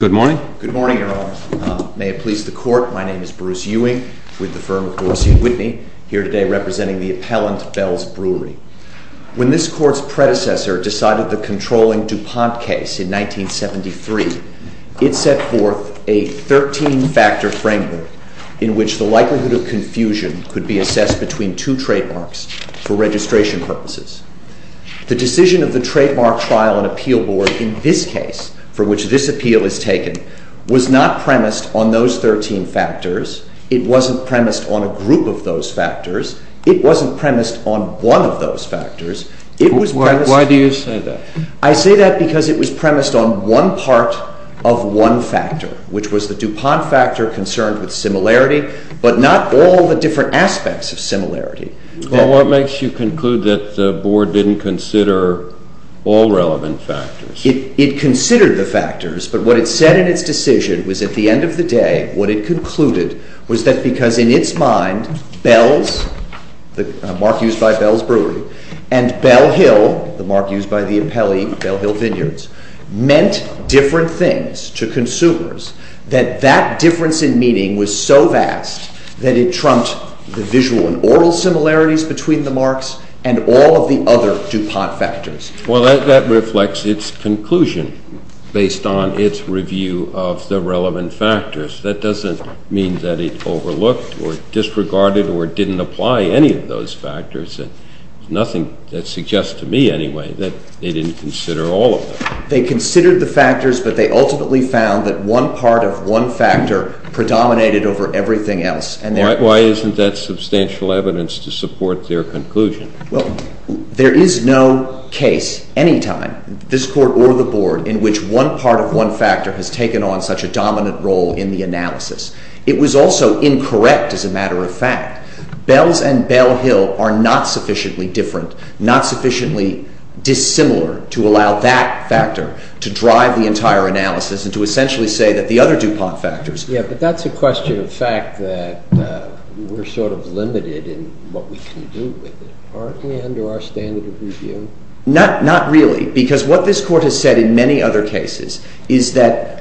Good morning. Good morning, Your Honor. May it please the Court, my name is Bruce Ewing with the firm of Dorsey & Whitney, here today representing the appellant Bells Brewery. When this Court's predecessor decided the controlling DuPont case in 1973, it set forth a 13-factor framework in which the likelihood of confusion could be assessed between two trademarks for registration purposes. The decision of the Trademark Trial and Appeal Board in this case, for which this appeal is taken, was not premised on those 13 factors. It wasn't premised on a group of those factors. It wasn't premised on one of those factors. It was premised… Why do you say that? I say that because it was premised on one part of one factor, which was the DuPont factor concerned with similarity, but not all the different aspects of similarity. What makes you conclude that the Board didn't consider all relevant factors? It considered the factors, but what it said in its decision was, at the end of the day, what it concluded was that because in its mind, Bells, the mark used by Bells Brewery, and Bell Hill, the mark used by the appellee, Bell Hill Vineyards, meant different things to consumers, that that difference in meaning was so vast that it trumped the visual and oral similarities between the marks and all of the other DuPont factors. Well, that reflects its conclusion based on its review of the relevant factors. That doesn't mean that it overlooked or disregarded or didn't apply any of those factors. There's nothing that suggests to me, anyway, that they didn't consider all of them. They considered the factors, but they ultimately found that one part of one factor predominated over everything else. Why isn't that substantial evidence to support their conclusion? Well, there is no case, any time, this Court or the Board, in which one part of one factor has taken on such a dominant role in the analysis. It was also incorrect as a matter of fact. Bells and Bell Hill are not sufficiently different, not sufficiently dissimilar to allow that factor to drive the entire analysis and to essentially say that the other DuPont factors Yeah, but that's a question of fact, that we're sort of limited in what we can do with it. Aren't we under our standard of review? Not really, because what this Court has said in many other cases is that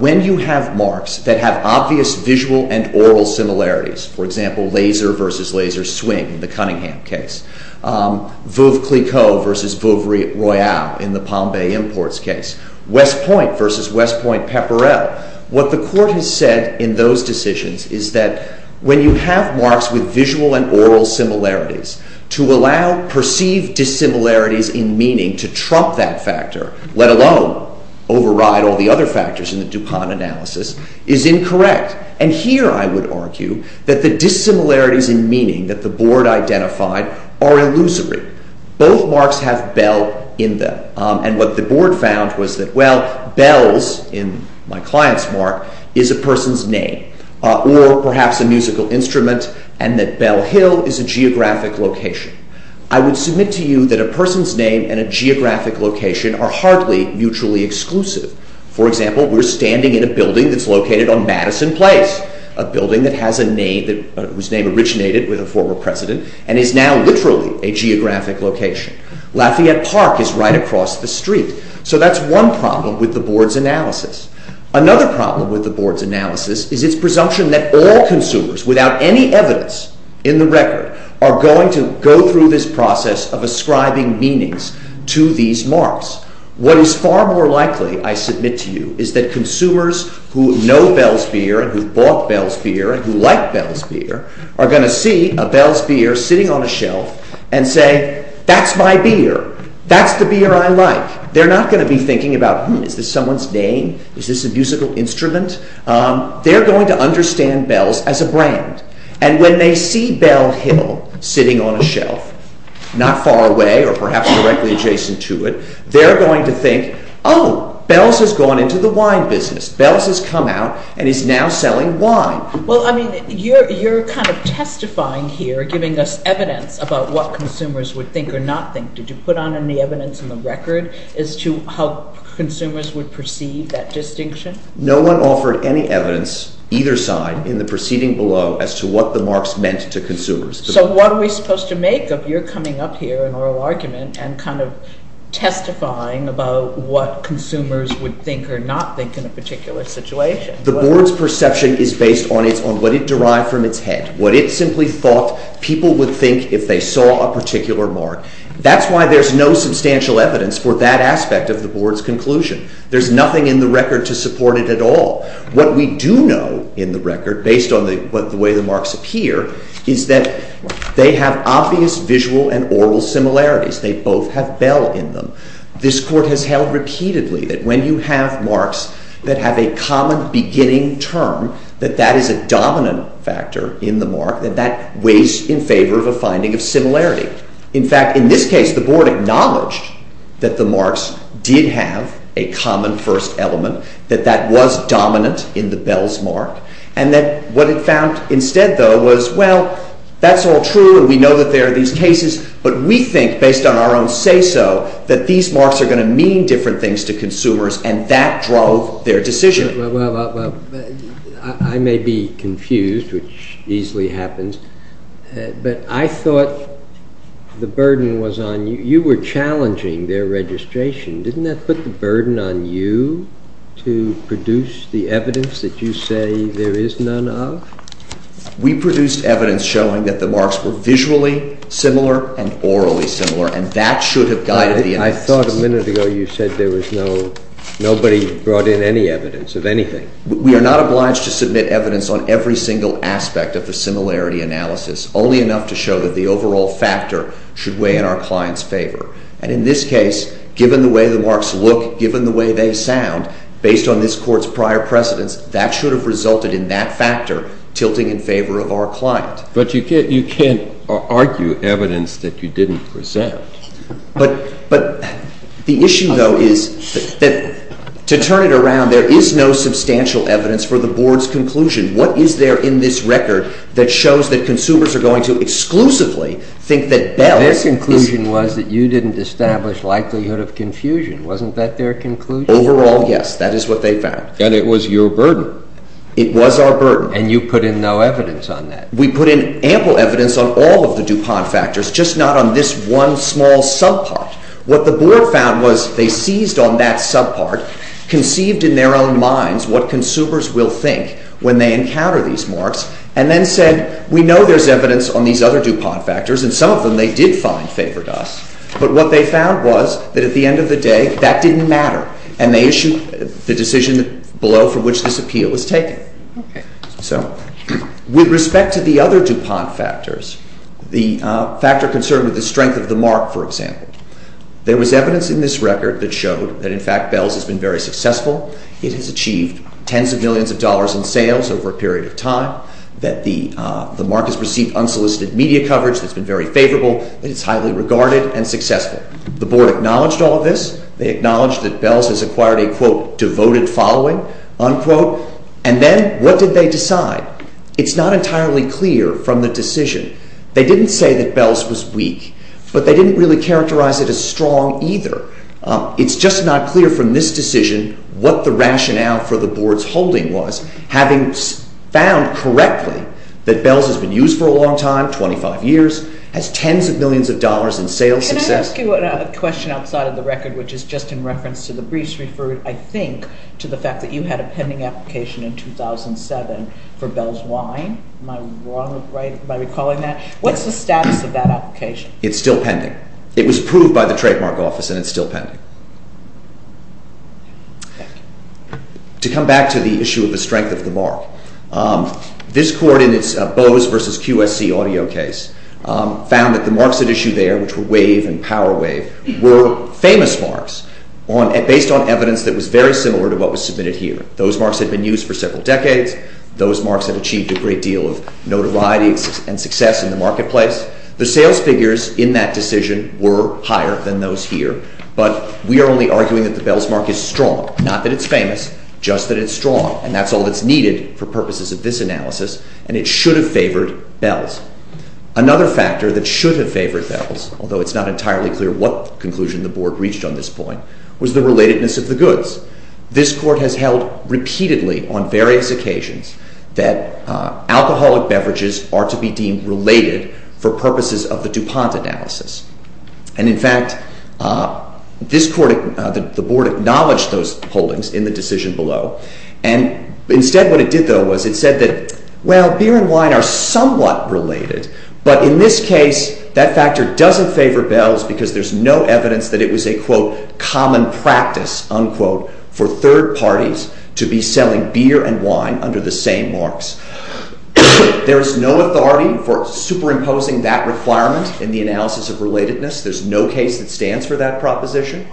when you have marks that have obvious visual and oral similarities, for example, laser versus laser swing in the Cunningham case, Veuve Clicquot versus Veuve Royale in the Palm Bay Imports case, West Point Pepperell, what the Court has said in those decisions is that when you have marks with visual and oral similarities, to allow perceived dissimilarities in meaning to trump that factor, let alone override all the other factors in the DuPont analysis, is incorrect. And here I would argue that the dissimilarities in meaning that the Board identified are illusory. Both marks have Bell in them. And what the Board found was that, well, Bell's, in my client's mark, is a person's name, or perhaps a musical instrument, and that Bell Hill is a geographic location. I would submit to you that a person's name and a geographic location are hardly mutually exclusive. For example, we're standing in a building that's located on Madison Place, a building that has a name, whose name originated with a former president, and is now literally a geographic location. Lafayette Park is right across the street. So that's one problem with the Board's analysis. Another problem with the Board's analysis is its presumption that all consumers, without any evidence in the record, are going to go through this process of ascribing meanings to these marks. What is far more likely, I submit to you, is that consumers who know Bell's beer and who've bought Bell's beer and who like Bell's beer are going to see a Bell's beer sitting on a shelf and say, that's my beer. That's the beer I like. They're not going to be thinking about, hmm, is this someone's name? Is this a musical instrument? They're going to understand Bell's as a brand. And when they see Bell Hill sitting on a shelf, not far away or perhaps directly adjacent to it, they're going to think, oh, Bell's has gone into the wine business. Bell's has come out and is now selling wine. Well, I mean, you're kind of testifying here, giving us evidence about what consumers would think or not think. Did you put on any evidence in the record as to how consumers would perceive that distinction? No one offered any evidence, either side, in the proceeding below as to what the marks meant to consumers. So what are we supposed to make of your coming up here in oral argument and kind of testifying about what consumers would think or not think in a particular situation? The board's perception is based on what it derived from its head, what it simply thought people would think if they saw a particular mark. That's why there's no substantial evidence for that aspect of the board's conclusion. There's nothing in the record to support it at all. What we do know in the record, based on the way the marks appear, is that they have obvious visual and oral similarities. They both have Bell in them. This court has held repeatedly that when you have marks that have a common beginning term, that that is a dominant factor in the mark, that that weighs in favor of a finding of similarity. In fact, in this case, the board acknowledged that the marks did have a common first element, that that was dominant in the Bell's mark, and that what it found instead, though, was, well, that's all true and we know that there are these cases, but we think, based on our own say-so, that these marks are going to mean different things to consumers, and that drove their decision. Well, I may be confused, which easily happens, but I thought the burden was on you. You were challenging their registration. Didn't that put the burden on you to produce the evidence that you say there is none of? We produced evidence showing that the marks were visually similar and orally similar, and that should have guided the analysis. I thought a minute ago you said there was no, nobody brought in any evidence of anything. We are not obliged to submit evidence on every single aspect of the similarity analysis, only enough to show that the overall factor should weigh in our client's favor. And in this case, given the way the marks look, given the way they sound, based on this court's prior precedence, that should have resulted in that factor tilting in favor of our client. But you can't argue evidence that you didn't present. But the issue, though, is that, to turn it around, there is no substantial evidence for the Board's conclusion. What is there in this record that shows that consumers are going to exclusively think that Bell is... Their conclusion was that you didn't establish likelihood of confusion. Wasn't that their conclusion? Overall, yes. That is what they found. And it was your burden. It was our burden. And you put in no evidence on that. We put in ample evidence on all of the DuPont factors, just not on this one small subpart. What the Board found was they seized on that subpart, conceived in their own minds what consumers will think when they encounter these marks, and then said, we know there's evidence on these other DuPont factors, and some of them they did find favored us. But what they found was that at the end of the day, that didn't matter. And they issued the decision below for which this appeal was taken. So with respect to the other DuPont factors, the factor concerned with the strength of the mark, for example, there was evidence in this record that showed that in fact Bell's has been very successful. It has achieved tens of millions of dollars in sales over a period of time, that the mark has received unsolicited media coverage that's been very favorable, that it's highly regarded and successful. The Board acknowledged all of this. They acknowledged that Bell's has acquired a, quote, devoted following, unquote. And then what did they decide? It's not entirely clear from the decision. They didn't say that Bell's was weak, but they didn't really characterize it as strong either. It's just not clear from this decision what the rationale for the Board's holding was, having found correctly that Bell's has been used for a long time, 25 years, has tens of millions of dollars in sales success. Can I ask you a question outside of the record, which is just in reference to the briefs referred, I think, to the fact that you had a pending application in 2007 for Bell's Wine. Am I wrong by recalling that? What's the status of that application? It's still pending. It was approved by the trademark office, and it's still pending. To come back to the issue of the strength of the mark, this Court in its Bose v. QSC audio case found that the marks at issue there, which were Wave and Power Wave, were famous marks based on evidence that was very similar to what was submitted here. Those marks had been used for several decades. Those marks had achieved a great deal of notoriety and success in the marketplace. The sales figures in that decision were higher than those here, but we are only arguing that the Bell's mark is strong, not that it's famous, just that it's strong, and that's all that's needed for purposes of this analysis, and it should have favored Bell's. Another factor that should have favored Bell's, although it's not entirely clear what conclusion the Board reached on this point, was the relatedness of the goods. This Court has held repeatedly on various occasions that alcoholic beverages are to be deemed related for purposes of the DuPont analysis, and in fact, this Court, the Board, acknowledged those holdings in the decision below, and instead what it did, though, was it said that, well, beer and wine are somewhat related, but in this case, that factor doesn't favor Bell's because there's no evidence that it was a, quote, common practice, unquote, for third parties to be selling beer and wine under the same marks. There is no authority for superimposing that requirement in the analysis of relatedness. There's no case that stands for that proposition,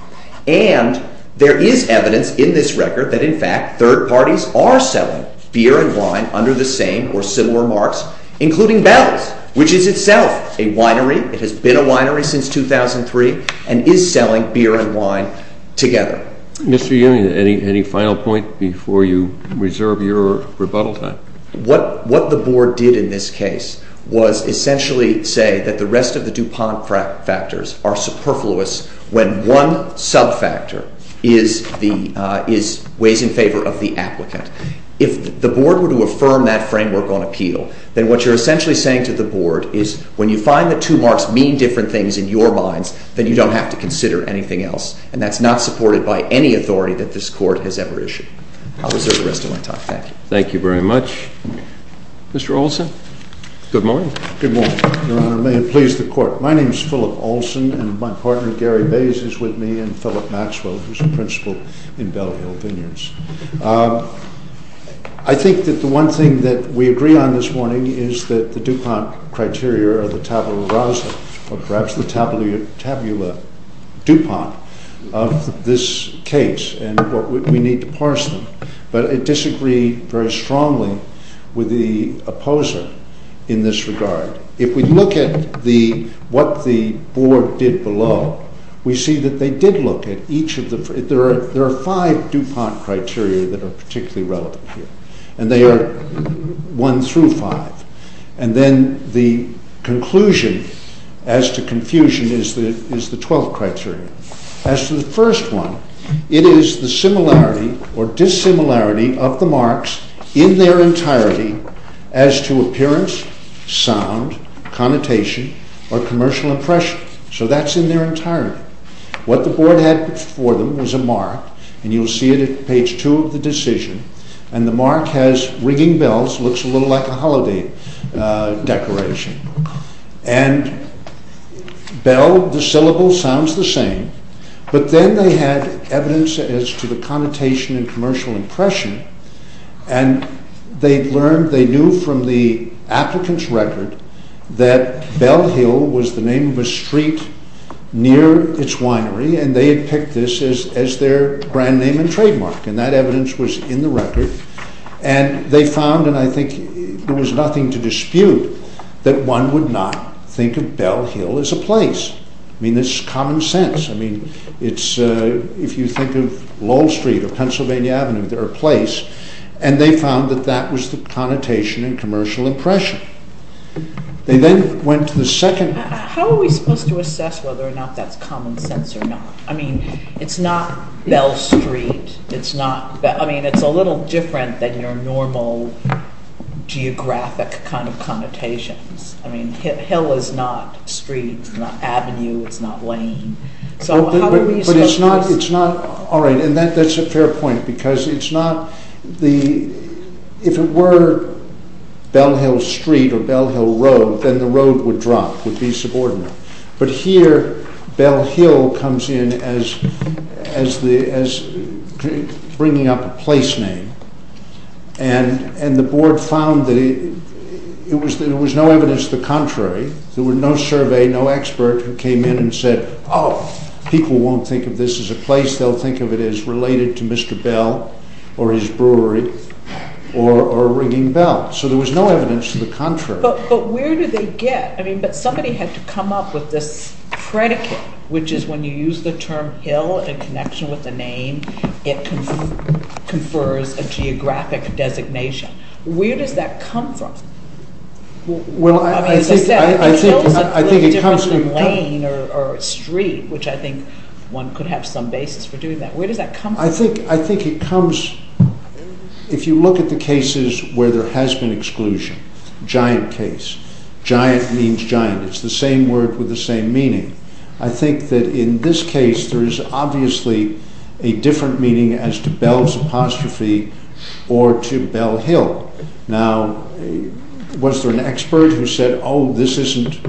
and there is evidence in this record that, in fact, third parties are selling beer and wine under the same or similar marks, including Bell's, which is itself a winery, it has been a winery since 2003, and is selling beer and wine together. Mr. Ewing, any final point before you reserve your rebuttal time? What the Board did in this case was essentially say that the rest of the DuPont factors are superfluous when one subfactor is ways in favor of the applicant. If the Board were to affirm that framework on appeal, then what you're essentially saying to the Board is, when you find that two marks mean different things in your minds, then you don't have to consider anything else, and that's not supported by any authority that this Court has ever issued. I'll reserve the rest of my time. Thank you. Thank you very much. Mr. Olson? Good morning. Good morning, Your Honor. May it please the Court. My name is Philip Olson, and my partner, Gary Bays, is with me, and Philip Maxwell, who's I think that the one thing that we agree on this morning is that the DuPont criteria are the tabula rasa, or perhaps the tabula dupont, of this case, and we need to parse them. But I disagree very strongly with the opposer in this regard. If we look at what the Board did below, we see that they did look at each of the... There are five DuPont criteria that are particularly relevant here, and they are one through five. And then the conclusion as to confusion is the twelfth criteria. As to the first one, it is the similarity or dissimilarity of the marks in their entirety as to appearance, sound, connotation, or commercial impression. So that's in their entirety. What the Board had before them was a mark, and you'll see it at page two of the decision, and the mark has ringing bells, looks a little like a holiday decoration. And bell, the syllable sounds the same, but then they had evidence as to the connotation and commercial impression, and they learned, they knew from the applicant's record that Bell Hill was the name of a street near its winery, and they had picked this as their brand name and trademark, and that evidence was in the record. And they found, and I think there was nothing to dispute, that one would not think of Bell Hill as a place. I mean, this is common sense. I mean, it's... If you think of Lowell Street or Pennsylvania Avenue, they're a place. And they found that that was the connotation and commercial impression. They then went to the second... How are we supposed to assess whether or not that's common sense or not? I mean, it's not Bell Street. It's not... I mean, it's a little different than your normal geographic kind of connotations. I mean, Hill is not street, it's not avenue, it's not lane. So how do we... But it's not... All right, and that's a fair point, because it's not the... If it were Bell Hill Street or Bell Hill Road, then the road would drop, would be subordinate. But here, Bell Hill comes in as bringing up a place name, and the board found that it was no evidence the contrary. There were no survey, no expert who came in and said, oh, people won't think of this as a place. They'll think of it as related to Mr. Bell or his brewery or ringing bells. So there was no evidence to the contrary. But where do they get... I mean, but somebody had to come up with this predicate, which is when you use the term hill in connection with the name, it confers a geographic designation. Where does that come from? Well, I mean, as I said, Hill is a little different than lane or street, which I think one could have some basis for doing that. Where does that come from? I think it comes... If you look at the cases where there has been exclusion, giant case, giant means giant. It's the same word with the same meaning. I think that in this case, there is obviously a different meaning as to Bell's apostrophe or to Bell Hill. Now, was there an expert who said, oh, this isn't...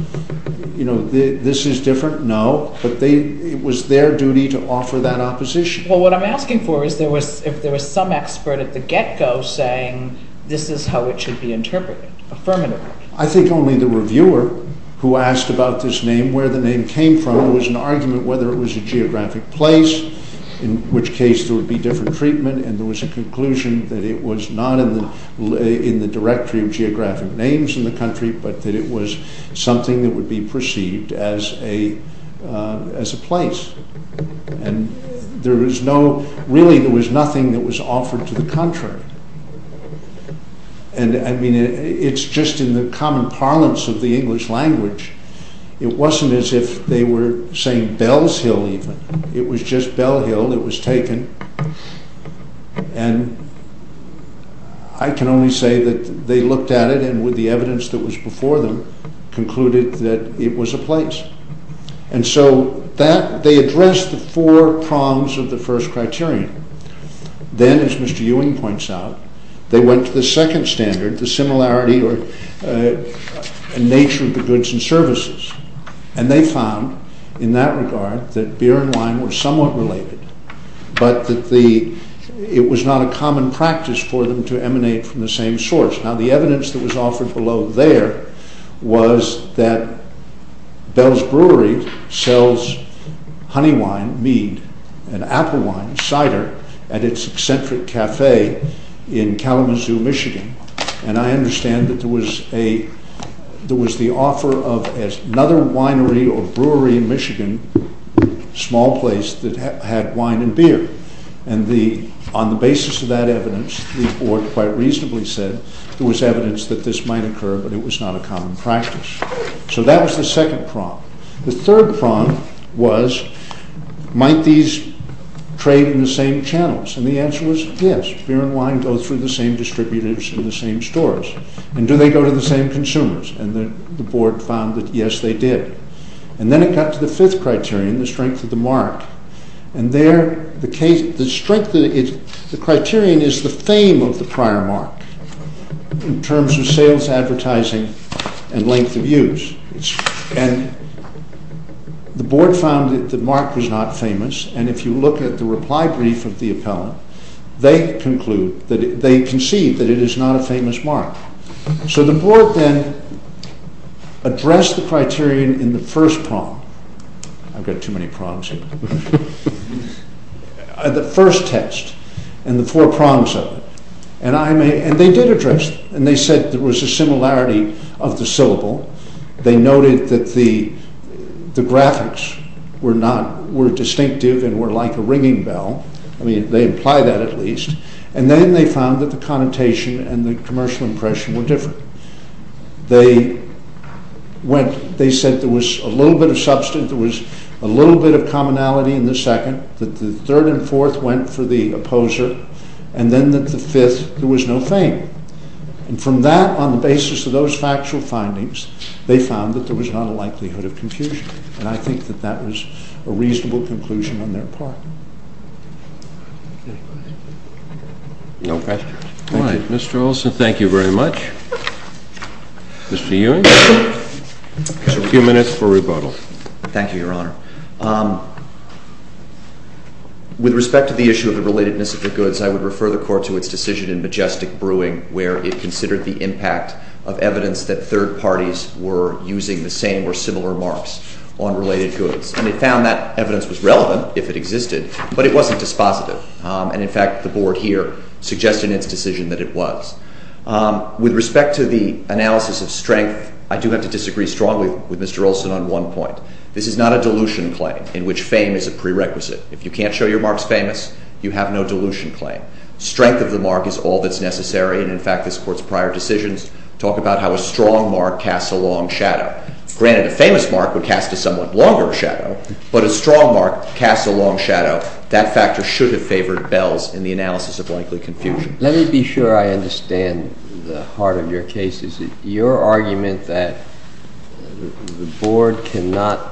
This is different? No. No. But it was their duty to offer that opposition. Well, what I'm asking for is if there was some expert at the get-go saying, this is how it should be interpreted, affirmatively. I think only the reviewer who asked about this name, where the name came from, it was an argument whether it was a geographic place, in which case there would be different treatment. And there was a conclusion that it was not in the directory of geographic names in the place. Really, there was nothing that was offered to the contrary. It's just in the common parlance of the English language. It wasn't as if they were saying Bell's Hill even. It was just Bell Hill that was taken. I can only say that they looked at it and with the evidence that was before them, concluded that it was a place. And so they addressed the four prongs of the first criterion. Then, as Mr. Ewing points out, they went to the second standard, the similarity or nature of the goods and services. And they found, in that regard, that beer and wine were somewhat related, but that it was not a common practice for them to emanate from the same source. Now, the evidence that was offered below there was that Bell's Brewery sells honey wine, mead, and apple wine, cider, at its eccentric café in Kalamazoo, Michigan. I understand that there was the offer of another winery or brewery in Michigan, a small place that had wine and beer. And on the basis of that evidence, the board quite reasonably said there was evidence that this might occur, but it was not a common practice. So that was the second prong. The third prong was, might these trade in the same channels? And the answer was, yes, beer and wine go through the same distributors in the same stores. And do they go to the same consumers? And the board found that, yes, they did. And then it got to the fifth criterion, the strength of the mark. And there, the criterion is the fame of the prior mark in terms of sales advertising and length of use. And the board found that the mark was not famous, and if you look at the reply brief of the appellant, they conclude, they conceive that it is not a famous mark. So the board then addressed the criterion in the first prong. I've got too many prongs here. The first test and the four prongs of it, and they did address it. And they said there was a similarity of the syllable. They noted that the graphics were distinctive and were like a ringing bell. They imply that at least. And then they found that the connotation and the commercial impression were different. They went, they said there was a little bit of substance, there was a little bit of commonality in the second, that the third and fourth went for the opposer, and then that the fifth, there was no fame. And from that, on the basis of those factual findings, they found that there was not a likelihood of confusion. And I think that that was a reasonable conclusion on their part. Any questions? No questions. Thank you. All right. Mr. Olson, thank you very much. Mr. Ewing, you have a few minutes for rebuttal. Thank you, Your Honor. With respect to the issue of the relatedness of the goods, I would refer the Court to its decision in Majestic Brewing, where it considered the impact of evidence that third parties were using the same or similar marks on related goods. And it found that evidence was relevant, if it existed, but it wasn't dispositive. And in fact, the Board here suggested in its decision that it was. With respect to the analysis of strength, I do have to disagree strongly with Mr. Olson on one point. This is not a dilution claim, in which fame is a prerequisite. If you can't show your marks famous, you have no dilution claim. Strength of the mark is all that's necessary, and in fact, this Court's prior decisions talk about how a strong mark casts a long shadow. Granted, a famous mark would cast a somewhat longer shadow, but a strong mark casts a long shadow. That factor should have favored Bells in the analysis of likely confusion. Let me be sure I understand the heart of your case. Is it your argument that the Board cannot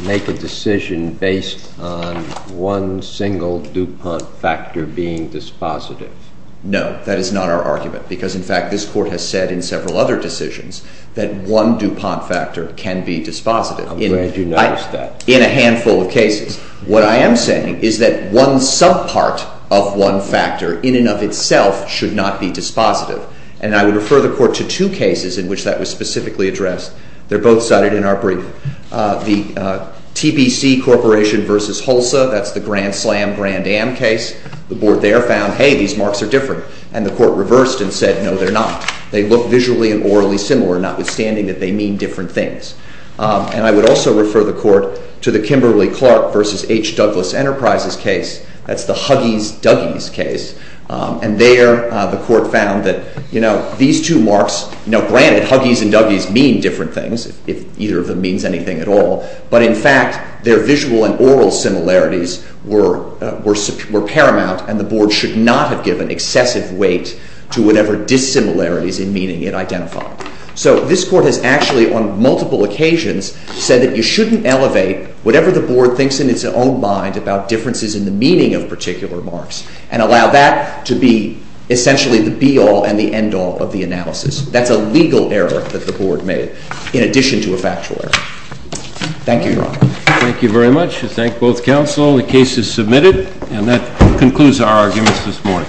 make a decision based on one single DuPont factor being dispositive? No, that is not our argument, because in fact, this Court has said in several other decisions that one DuPont factor can be dispositive. I'm glad you noticed that. In a handful of cases. What I am saying is that one sub-part of one factor in and of itself should not be dispositive, and I would refer the Court to two cases in which that was specifically addressed. They're both cited in our brief. The TBC Corporation v. Hulsa, that's the Grand Slam, Grand Am case. The Board there found, hey, these marks are different, and the Court reversed and said, no, they're not. They look visually and orally similar, notwithstanding that they mean different things. And I would also refer the Court to the Kimberly-Clark v. H. Douglas Enterprises case. That's the Huggies-Duggies case, and there the Court found that, you know, these two marks, you know, granted, Huggies and Duggies mean different things, if either of them means anything at all, but in fact, their visual and oral similarities were paramount, and the Board should not have given excessive weight to whatever dissimilarities in meaning it identified. So this Court has actually, on multiple occasions, said that you shouldn't elevate whatever the Board thinks in its own mind about differences in the meaning of particular marks and allow that to be essentially the be-all and the end-all of the analysis. That's a legal error that the Board made, in addition to a factual error. Thank you, Your Honor. Thank you very much. I thank both counsel. The case is submitted, and that concludes our arguments this morning.